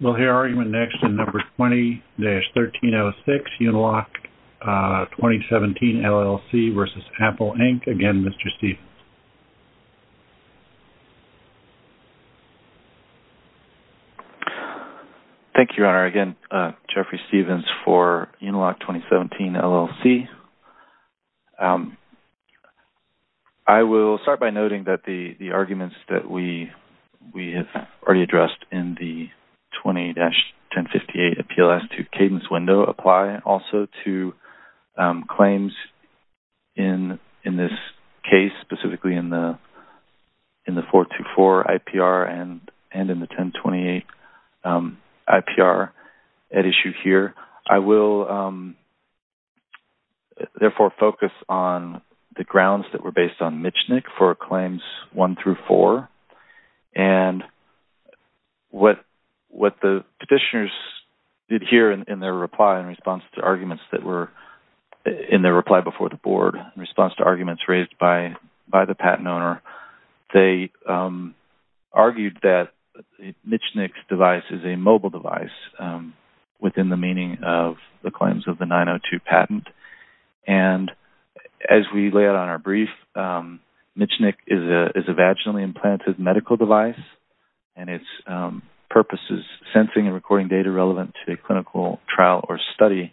We'll hear argument next in No. 20-1306, Uniloc 2017 LLC v. Apple Inc. Again, Mr. Stephens. Thank you, Your Honor. Again, Jeffrey Stephens for Uniloc 2017 LLC. I will start by noting that the arguments that we have already addressed in the 20-1058 appeal as to cadence window apply also to claims in this case, specifically in the 424 IPR and in the 1028 IPR at issue here. I will, therefore, focus on the grounds that were based on Michnik for claims one through four and what the petitioners did here in their reply in response to arguments that were in their reply before the board, in response to arguments raised by the patent owner, they of the claims of the 902 patent. And as we lay out on our brief, Michnik is a vaginally implanted medical device and its purpose is sensing and recording data relevant to a clinical trial or study.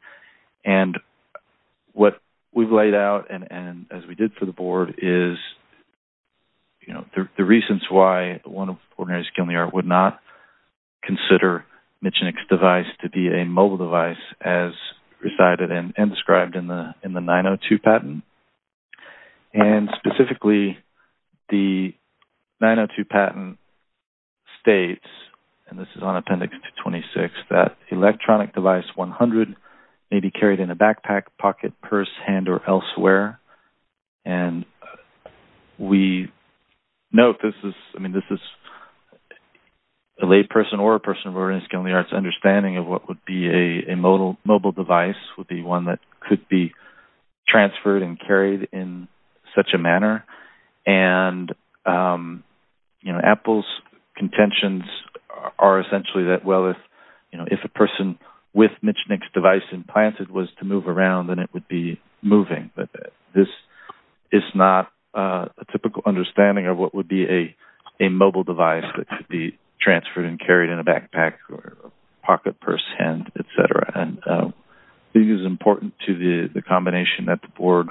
And what we've laid out and as we did for the board is, you know, the reasons why one would not consider Michnik's device to be a mobile device as recited and described in the 902 patent. And specifically, the 902 patent states, and this is on Appendix 226, that electronic device 100 may be carried in a backpack, pocket, purse, hand, or elsewhere. And we note this is, I mean, this is a lay person or a person of order in the School of the Arts understanding of what would be a mobile device would be one that could be transferred and carried in such a manner. And, you know, Apple's contentions are essentially that, well, if, you know, if a person with a medical device, this is not a typical understanding of what would be a mobile device that could be transferred and carried in a backpack or pocket, purse, hand, et cetera. And this is important to the combination that the board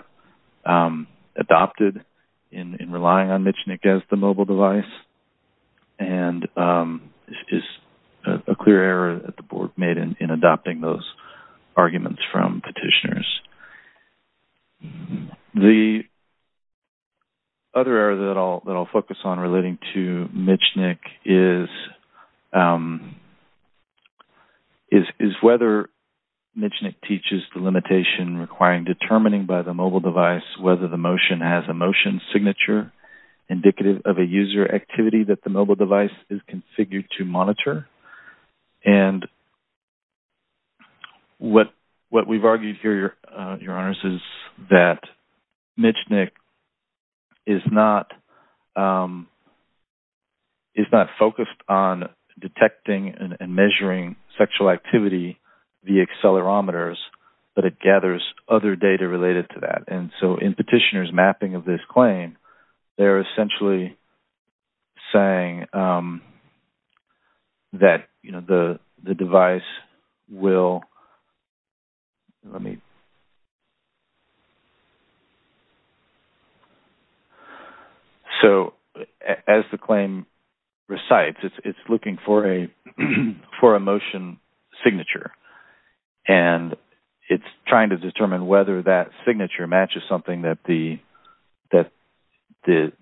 adopted in relying on Michnik as the mobile device and is a clear error that the board made in adopting those arguments from petitioners. The other error that I'll focus on relating to Michnik is whether Michnik teaches the limitation requiring determining by the mobile device whether the motion has a motion signature indicative of a user activity that the mobile device is configured to monitor. And what we've argued here, Your Honors, is that Michnik is not focused on detecting and measuring sexual activity via accelerometers, but it gathers other data related to that. And so, in petitioner's mapping of this claim, they're essentially saying that, you know, the device will, let me, so as the claim recites, it's looking for a motion signature. And it's trying to determine whether that signature matches something that the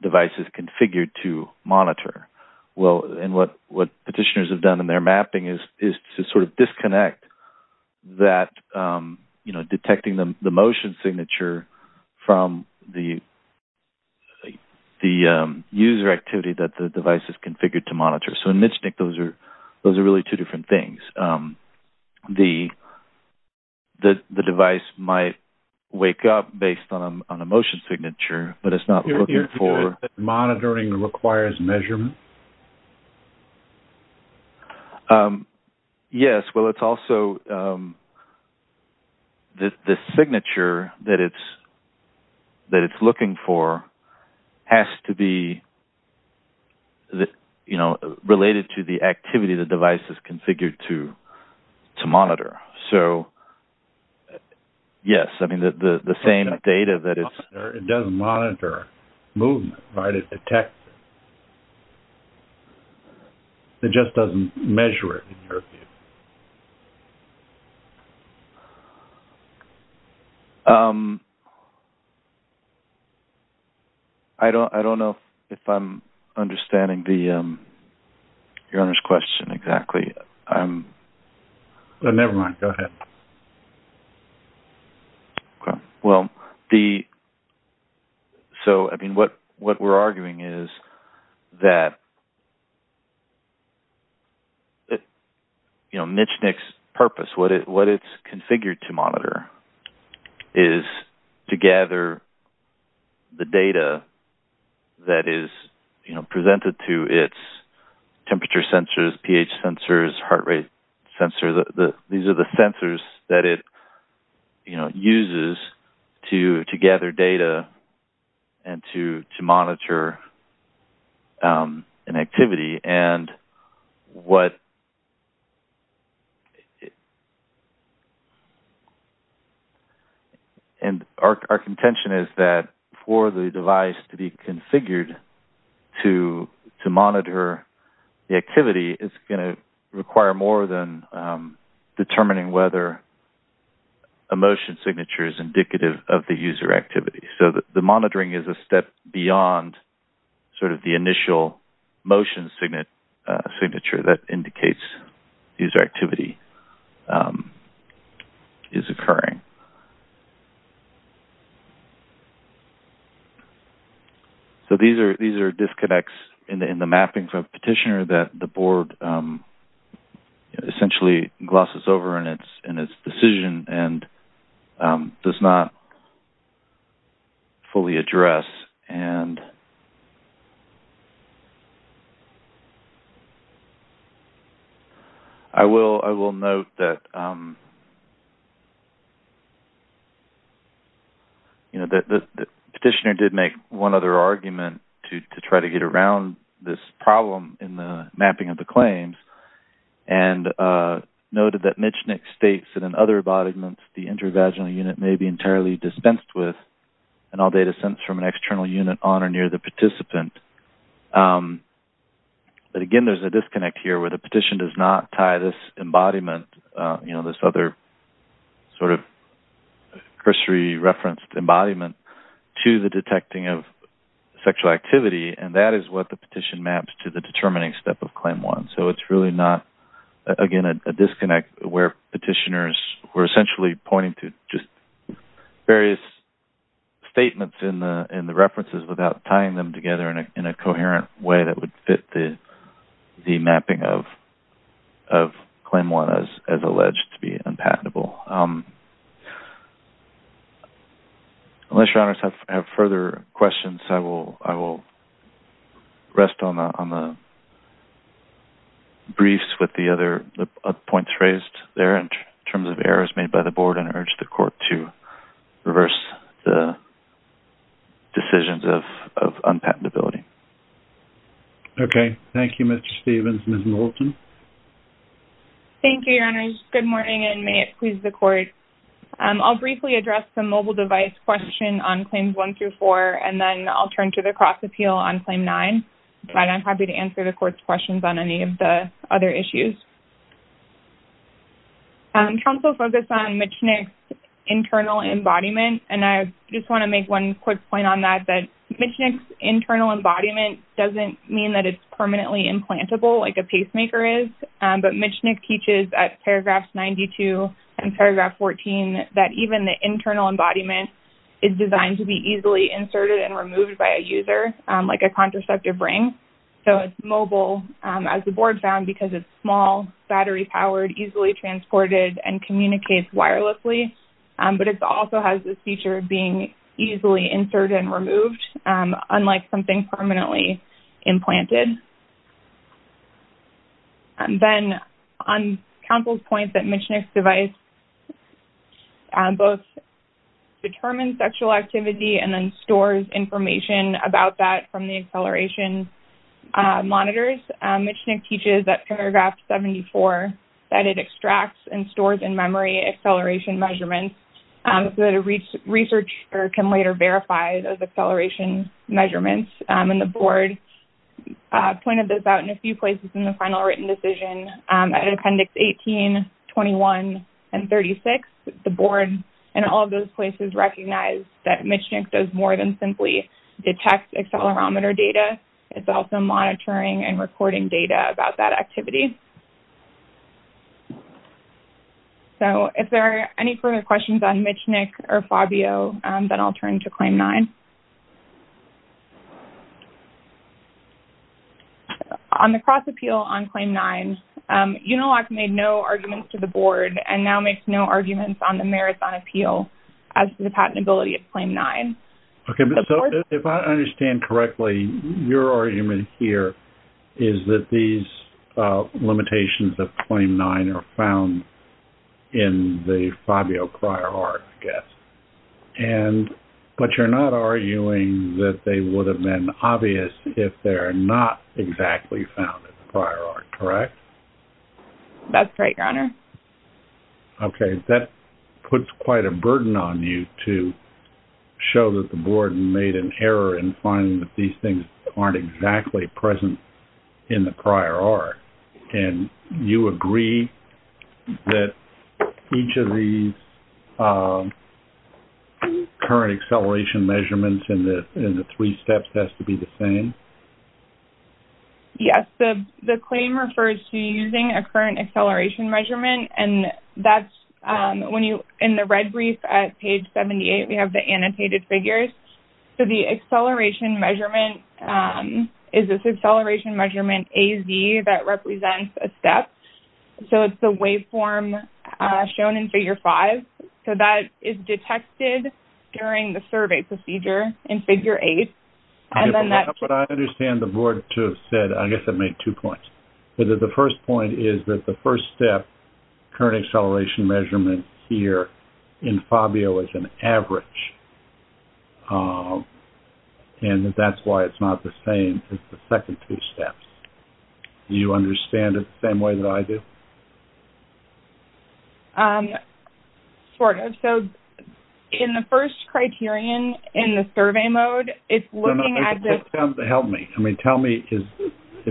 device is configured to monitor. Well, and what petitioners have done in their mapping is to sort of disconnect that, you know, detecting the motion signature from the user activity that the device is configured to monitor. So, in Michnik, those are really two different things. The device might wake up based on a motion signature, but it's not looking for... You're saying that monitoring requires measurement? Yes. Well, it's also the signature that it's looking for has to be, you know, related to the activity the device is configured to monitor. So, yes, I mean, the same data that it's... It doesn't monitor movement, right? It detects it. It just doesn't measure it, in your view. I don't know if I'm understanding the, your Honor's question exactly. I'm... Never mind. Go ahead. Okay. Well, the... So, I mean, what we're arguing is that, you know, Michnik's purpose, what it's configured to monitor is to gather the data that is, you know, presented to its temperature sensors, pH sensors, heart rate sensor. These are the sensors that it, you know, uses to gather data and to monitor an activity. And what... And our contention is that for the device to be configured to monitor the activity, it's going to require more than determining whether a motion signature is indicative of the user activity. So, the monitoring is a step beyond sort of the initial motion signature that indicates user activity is occurring. So, these are disconnects in the mappings of Petitioner that the board essentially glosses over in its decision and does not fully address. And... I will note that, you know, that Petitioner did make one other argument to try to get around this problem in the mapping of the claims and noted that Michnik states that in other embodiments, the intervaginal unit may be entirely dispensed with and all data sent from an external unit on or near the participant. But again, there's a disconnect here where the petition does not tie this embodiment, you know, this other sort of cursory referenced embodiment to the detecting of sexual activity and that is what the petition maps to the determining step of Claim 1. So, it's really not, again, a disconnect where petitioners were essentially pointing to just various statements in the references without tying them together in a coherent way that would fit the mapping of Claim 1 as alleged to be unpatentable. Unless your honors have further questions, I will rest on the briefs with the other points raised there in terms of errors made by the board and urge the court to reverse the decisions of unpatentability. Okay. Thank you, Mr. Stevens. Ms. Moulton? Thank you, your honors. Good morning and may it please the court. I'll briefly address the mobile device question on Claims 1 through 4 and then I'll turn to the cross-appeal on Claim 9. And I'm happy to answer the court's questions on any of the other issues. I'm trying to focus on Michnik's internal embodiment and I just want to make one quick point on that, that Michnik's internal embodiment doesn't mean that it's permanently implantable like a pacemaker is, but Michnik teaches at paragraphs 92 and paragraph 14 that even the internal embodiment is designed to be easily inserted and removed by a user like a contraceptive ring. So it's mobile, as the board found, because it's small, battery-powered, easily transported and communicates wirelessly, but it also has this feature of being easily inserted and removed, unlike something permanently implanted. And then on counsel's point that Michnik's device both determines sexual activity and stores information about that from the acceleration monitors, Michnik teaches at paragraph 74 that it extracts and stores in memory acceleration measurements so that a researcher can later verify those acceleration measurements. And the board pointed this out in a few places in the final written decision at Appendix 18, 21, and 36, the board in all of those places recognized that Michnik does more than simply detect accelerometer data, it's also monitoring and recording data about that activity. So if there are any further questions on Michnik or Fabio, then I'll turn to Claim 9. On the cross-appeal on Claim 9, Unilock made no arguments to the board and now makes no arguments on the Marathon Appeal as to the patentability of Claim 9. Okay, so if I understand correctly, your argument here is that these limitations of Claim 9 are found in the Fabio prior art, I guess. But you're not arguing that they would have been obvious if they're not exactly found in the prior art, correct? That's right, Your Honor. Okay, that puts quite a burden on you to show that the board made an error in finding that these things aren't exactly present in the prior art. And you agree that each of these current acceleration measurements in the three steps has to be the same? Yes, the claim refers to using a current acceleration measurement and that's when you, in the red brief at page 78, we have the annotated figures. So the acceleration measurement is this acceleration measurement AZ that represents a step. So it's the waveform shown in Figure 5. So that is detected during the survey procedure in Figure 8. But I understand the board to have said, I guess it made two points. The first point is that the first step current acceleration measurement here in Fabio is an average. And that's why it's not the same as the second two steps. Do you understand it the same way that I do? Sort of. So in the first criterion in the survey mode, it's looking at this... If you could help me. I mean, tell me,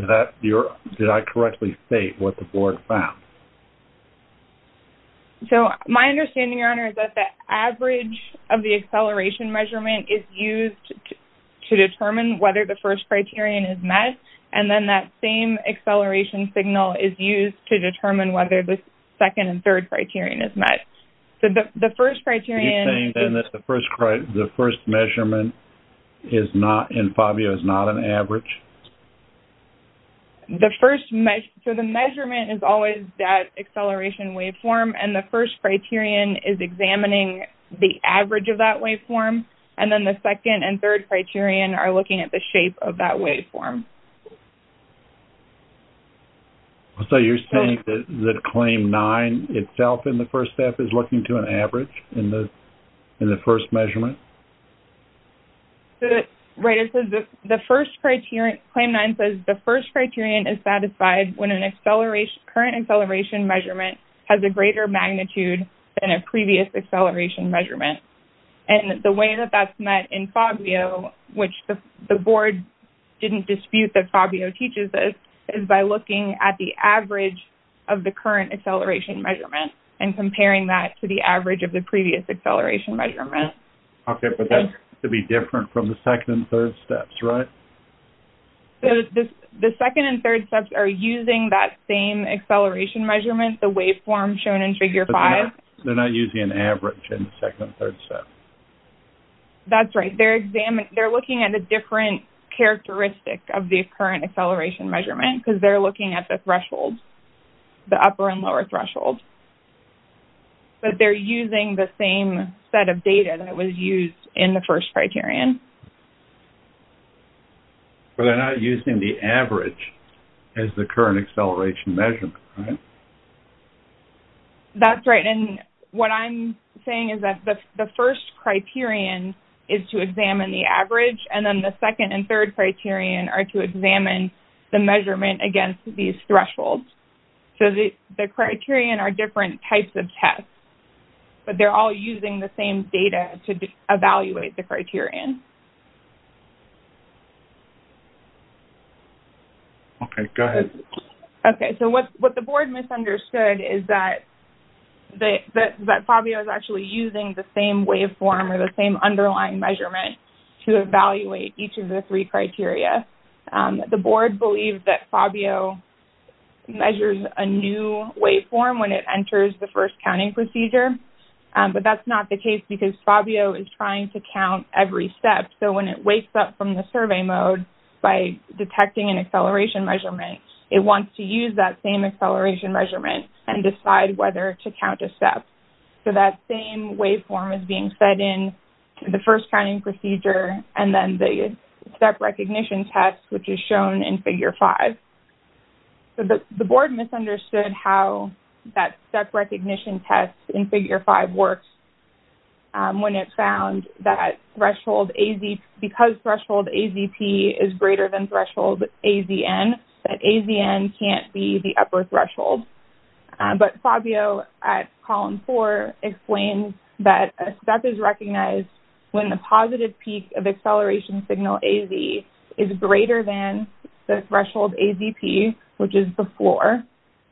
did I correctly state what the board found? So my understanding, Your Honor, is that the average of the acceleration measurement is used to determine whether the first criterion is met. And then that same acceleration signal is used to determine whether the second and third criterion is met. So the first criterion... Are you saying then that the first measurement in Fabio is not an average? The first... So the measurement is always that acceleration waveform. And the first criterion is examining the average of that waveform. And then the second and third criterion are looking at the shape of that waveform. So you're saying that Claim 9 itself in the first step is looking to an average in the first measurement? Right. It says that the first criterion... Claim 9 says the first criterion is satisfied when a current acceleration measurement has a greater magnitude than a previous acceleration measurement. And the way that that's met in Fabio, which the board didn't dispute that Fabio teaches this, is by looking at the average of the current acceleration measurement and comparing that to the average of the previous acceleration measurement. Okay. But that's to be different from the second and third steps, right? The second and third steps are using that same acceleration measurement, the waveform shown in Figure 5. They're not using an average in the second and third steps? That's right. They're examining... They're looking at a different characteristic of the current acceleration measurement because they're looking at the threshold, the upper and lower threshold. But they're using the same set of data that was used in the first criterion. But they're not using the average as the current acceleration measurement, right? That's right. And what I'm saying is that the first criterion is to examine the average, and then the second and third criterion are to examine the measurement against these thresholds. So the criterion are different types of tests, but they're all using the same data to evaluate the criterion. Okay. Go ahead. Okay. So what the board misunderstood is that Fabio is actually using the same waveform or the three criteria. The board believes that Fabio measures a new waveform when it enters the first counting procedure, but that's not the case because Fabio is trying to count every step. So when it wakes up from the survey mode by detecting an acceleration measurement, it wants to use that same acceleration measurement and decide whether to count a step. So that same waveform is being set in the first counting procedure and then the step recognition test, which is shown in Figure 5. So the board misunderstood how that step recognition test in Figure 5 works when it found that threshold AZP...because threshold AZP is greater than threshold AZN, that AZN can't be the upper threshold. But Fabio at Column 4 explains that a step is recognized when the positive peak of acceleration signal AZ is greater than the threshold AZP, which is the floor,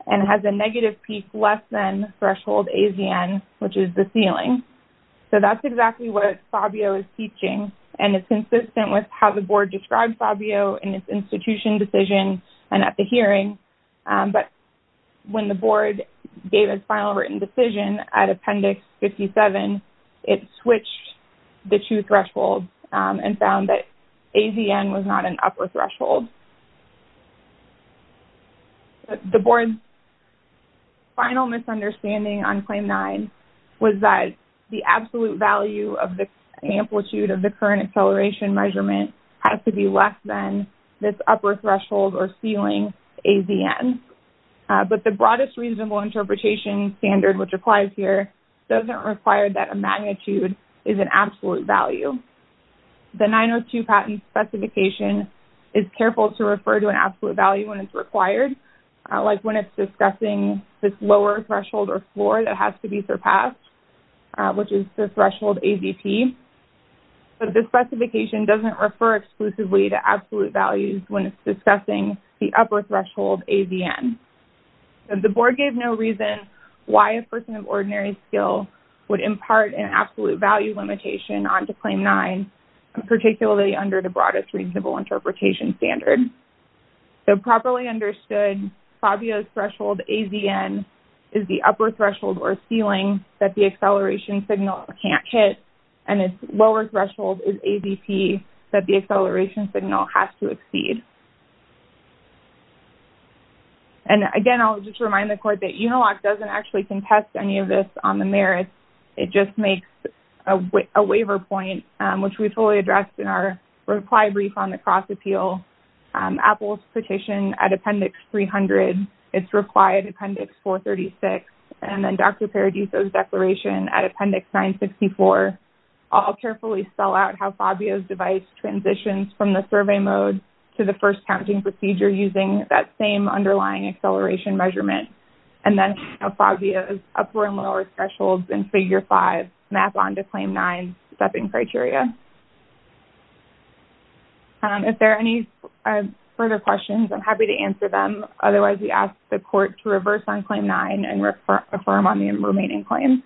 and has a negative peak less than threshold AZN, which is the ceiling. So that's exactly what Fabio is teaching, and it's consistent with how the board described Fabio in its institution decision and at the hearing. But when the board gave its final written decision at Appendix 57, it switched the two thresholds and found that AZN was not an upper threshold. The board's final misunderstanding on Claim 9 was that the absolute value of the amplitude of the current acceleration measurement has to be less than this upper threshold or ceiling AZN. But the broadest reasonable interpretation standard, which applies here, doesn't require that a magnitude is an absolute value. The 902 patent specification is careful to refer to an absolute value when it's required, like when it's discussing this lower threshold or floor that has to be surpassed, which is the threshold AZP. But this specification doesn't refer exclusively to absolute values when it's discussing the upper threshold AZN. The board gave no reason why a person of ordinary skill would impart an absolute value limitation onto Claim 9, particularly under the broadest reasonable interpretation standard. So properly understood, Fabio's threshold AZN is the upper threshold or ceiling that the acceleration signal can't hit, and its lower threshold is AZP that the acceleration signal has to exceed. And again, I'll just remind the court that UNILOC doesn't actually contest any of this on the merits. It just makes a waiver point, which we fully addressed in our reply brief on the cross appeal. Apple's petition at Appendix 300, its reply at Appendix 436, and then Dr. Paradiso's declaration at Appendix 964 all carefully spell out how Fabio's device transitions from the survey mode to the first counting procedure using that same underlying acceleration measurement. And then Fabio's upper and lower thresholds in Figure 5 map onto Claim 9's stepping criteria. If there are any further questions, I'm happy to answer them. Otherwise, we ask the court to reverse on Claim 9 and affirm on the remaining claims.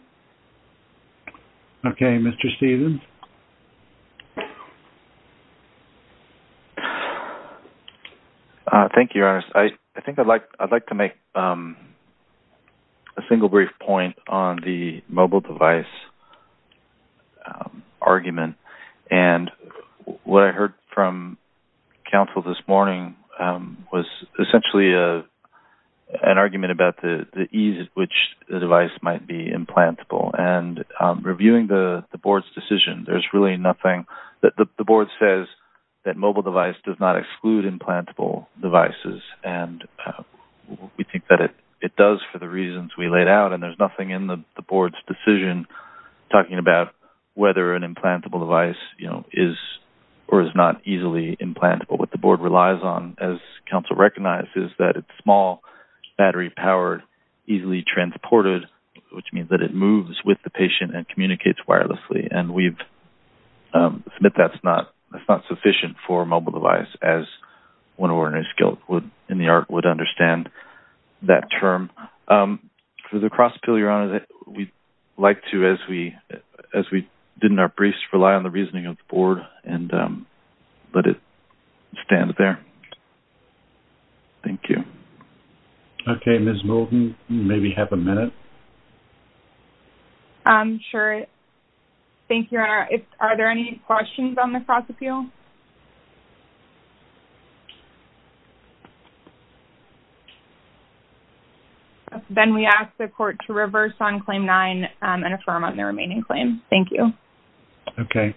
Okay. Mr. Stephens? Thank you, Your Honor. I think I'd like to make a single brief point on the mobile device argument. And what I heard from counsel this morning was essentially an argument about the ease at which the device might be implantable. And reviewing the board's decision, there's really nothing that the board says that mobile device does not exclude implantable devices. And we think that it does for the reasons we laid out. And there's nothing in the board's decision talking about whether an implantable device is or is not easily implantable. What the board relies on, as counsel recognized, is that it's small, battery-powered, easily transported, which means that it moves with the patient and communicates wirelessly. And we submit that's not sufficient for a mobile device, as one ordinary skilled in the art would understand that term. For the cross-appeal, Your Honor, we'd like to, as we did in our briefs, rely on the reasoning of the board and let it stand there. Thank you. Okay. Ms. Moulton, you maybe have a minute. Sure. Thank you, Your Honor. Are there any questions on the cross-appeal? Then we ask the court to reverse on Claim 9 and affirm on the remaining claim. Thank you. Okay.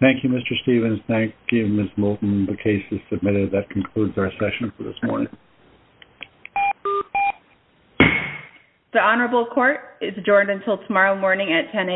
Thank you, Mr. Stevens. Thank you, Ms. Moulton. The case is submitted. That concludes our session for this morning. The Honorable Court is adjourned until tomorrow morning at 10 a.m.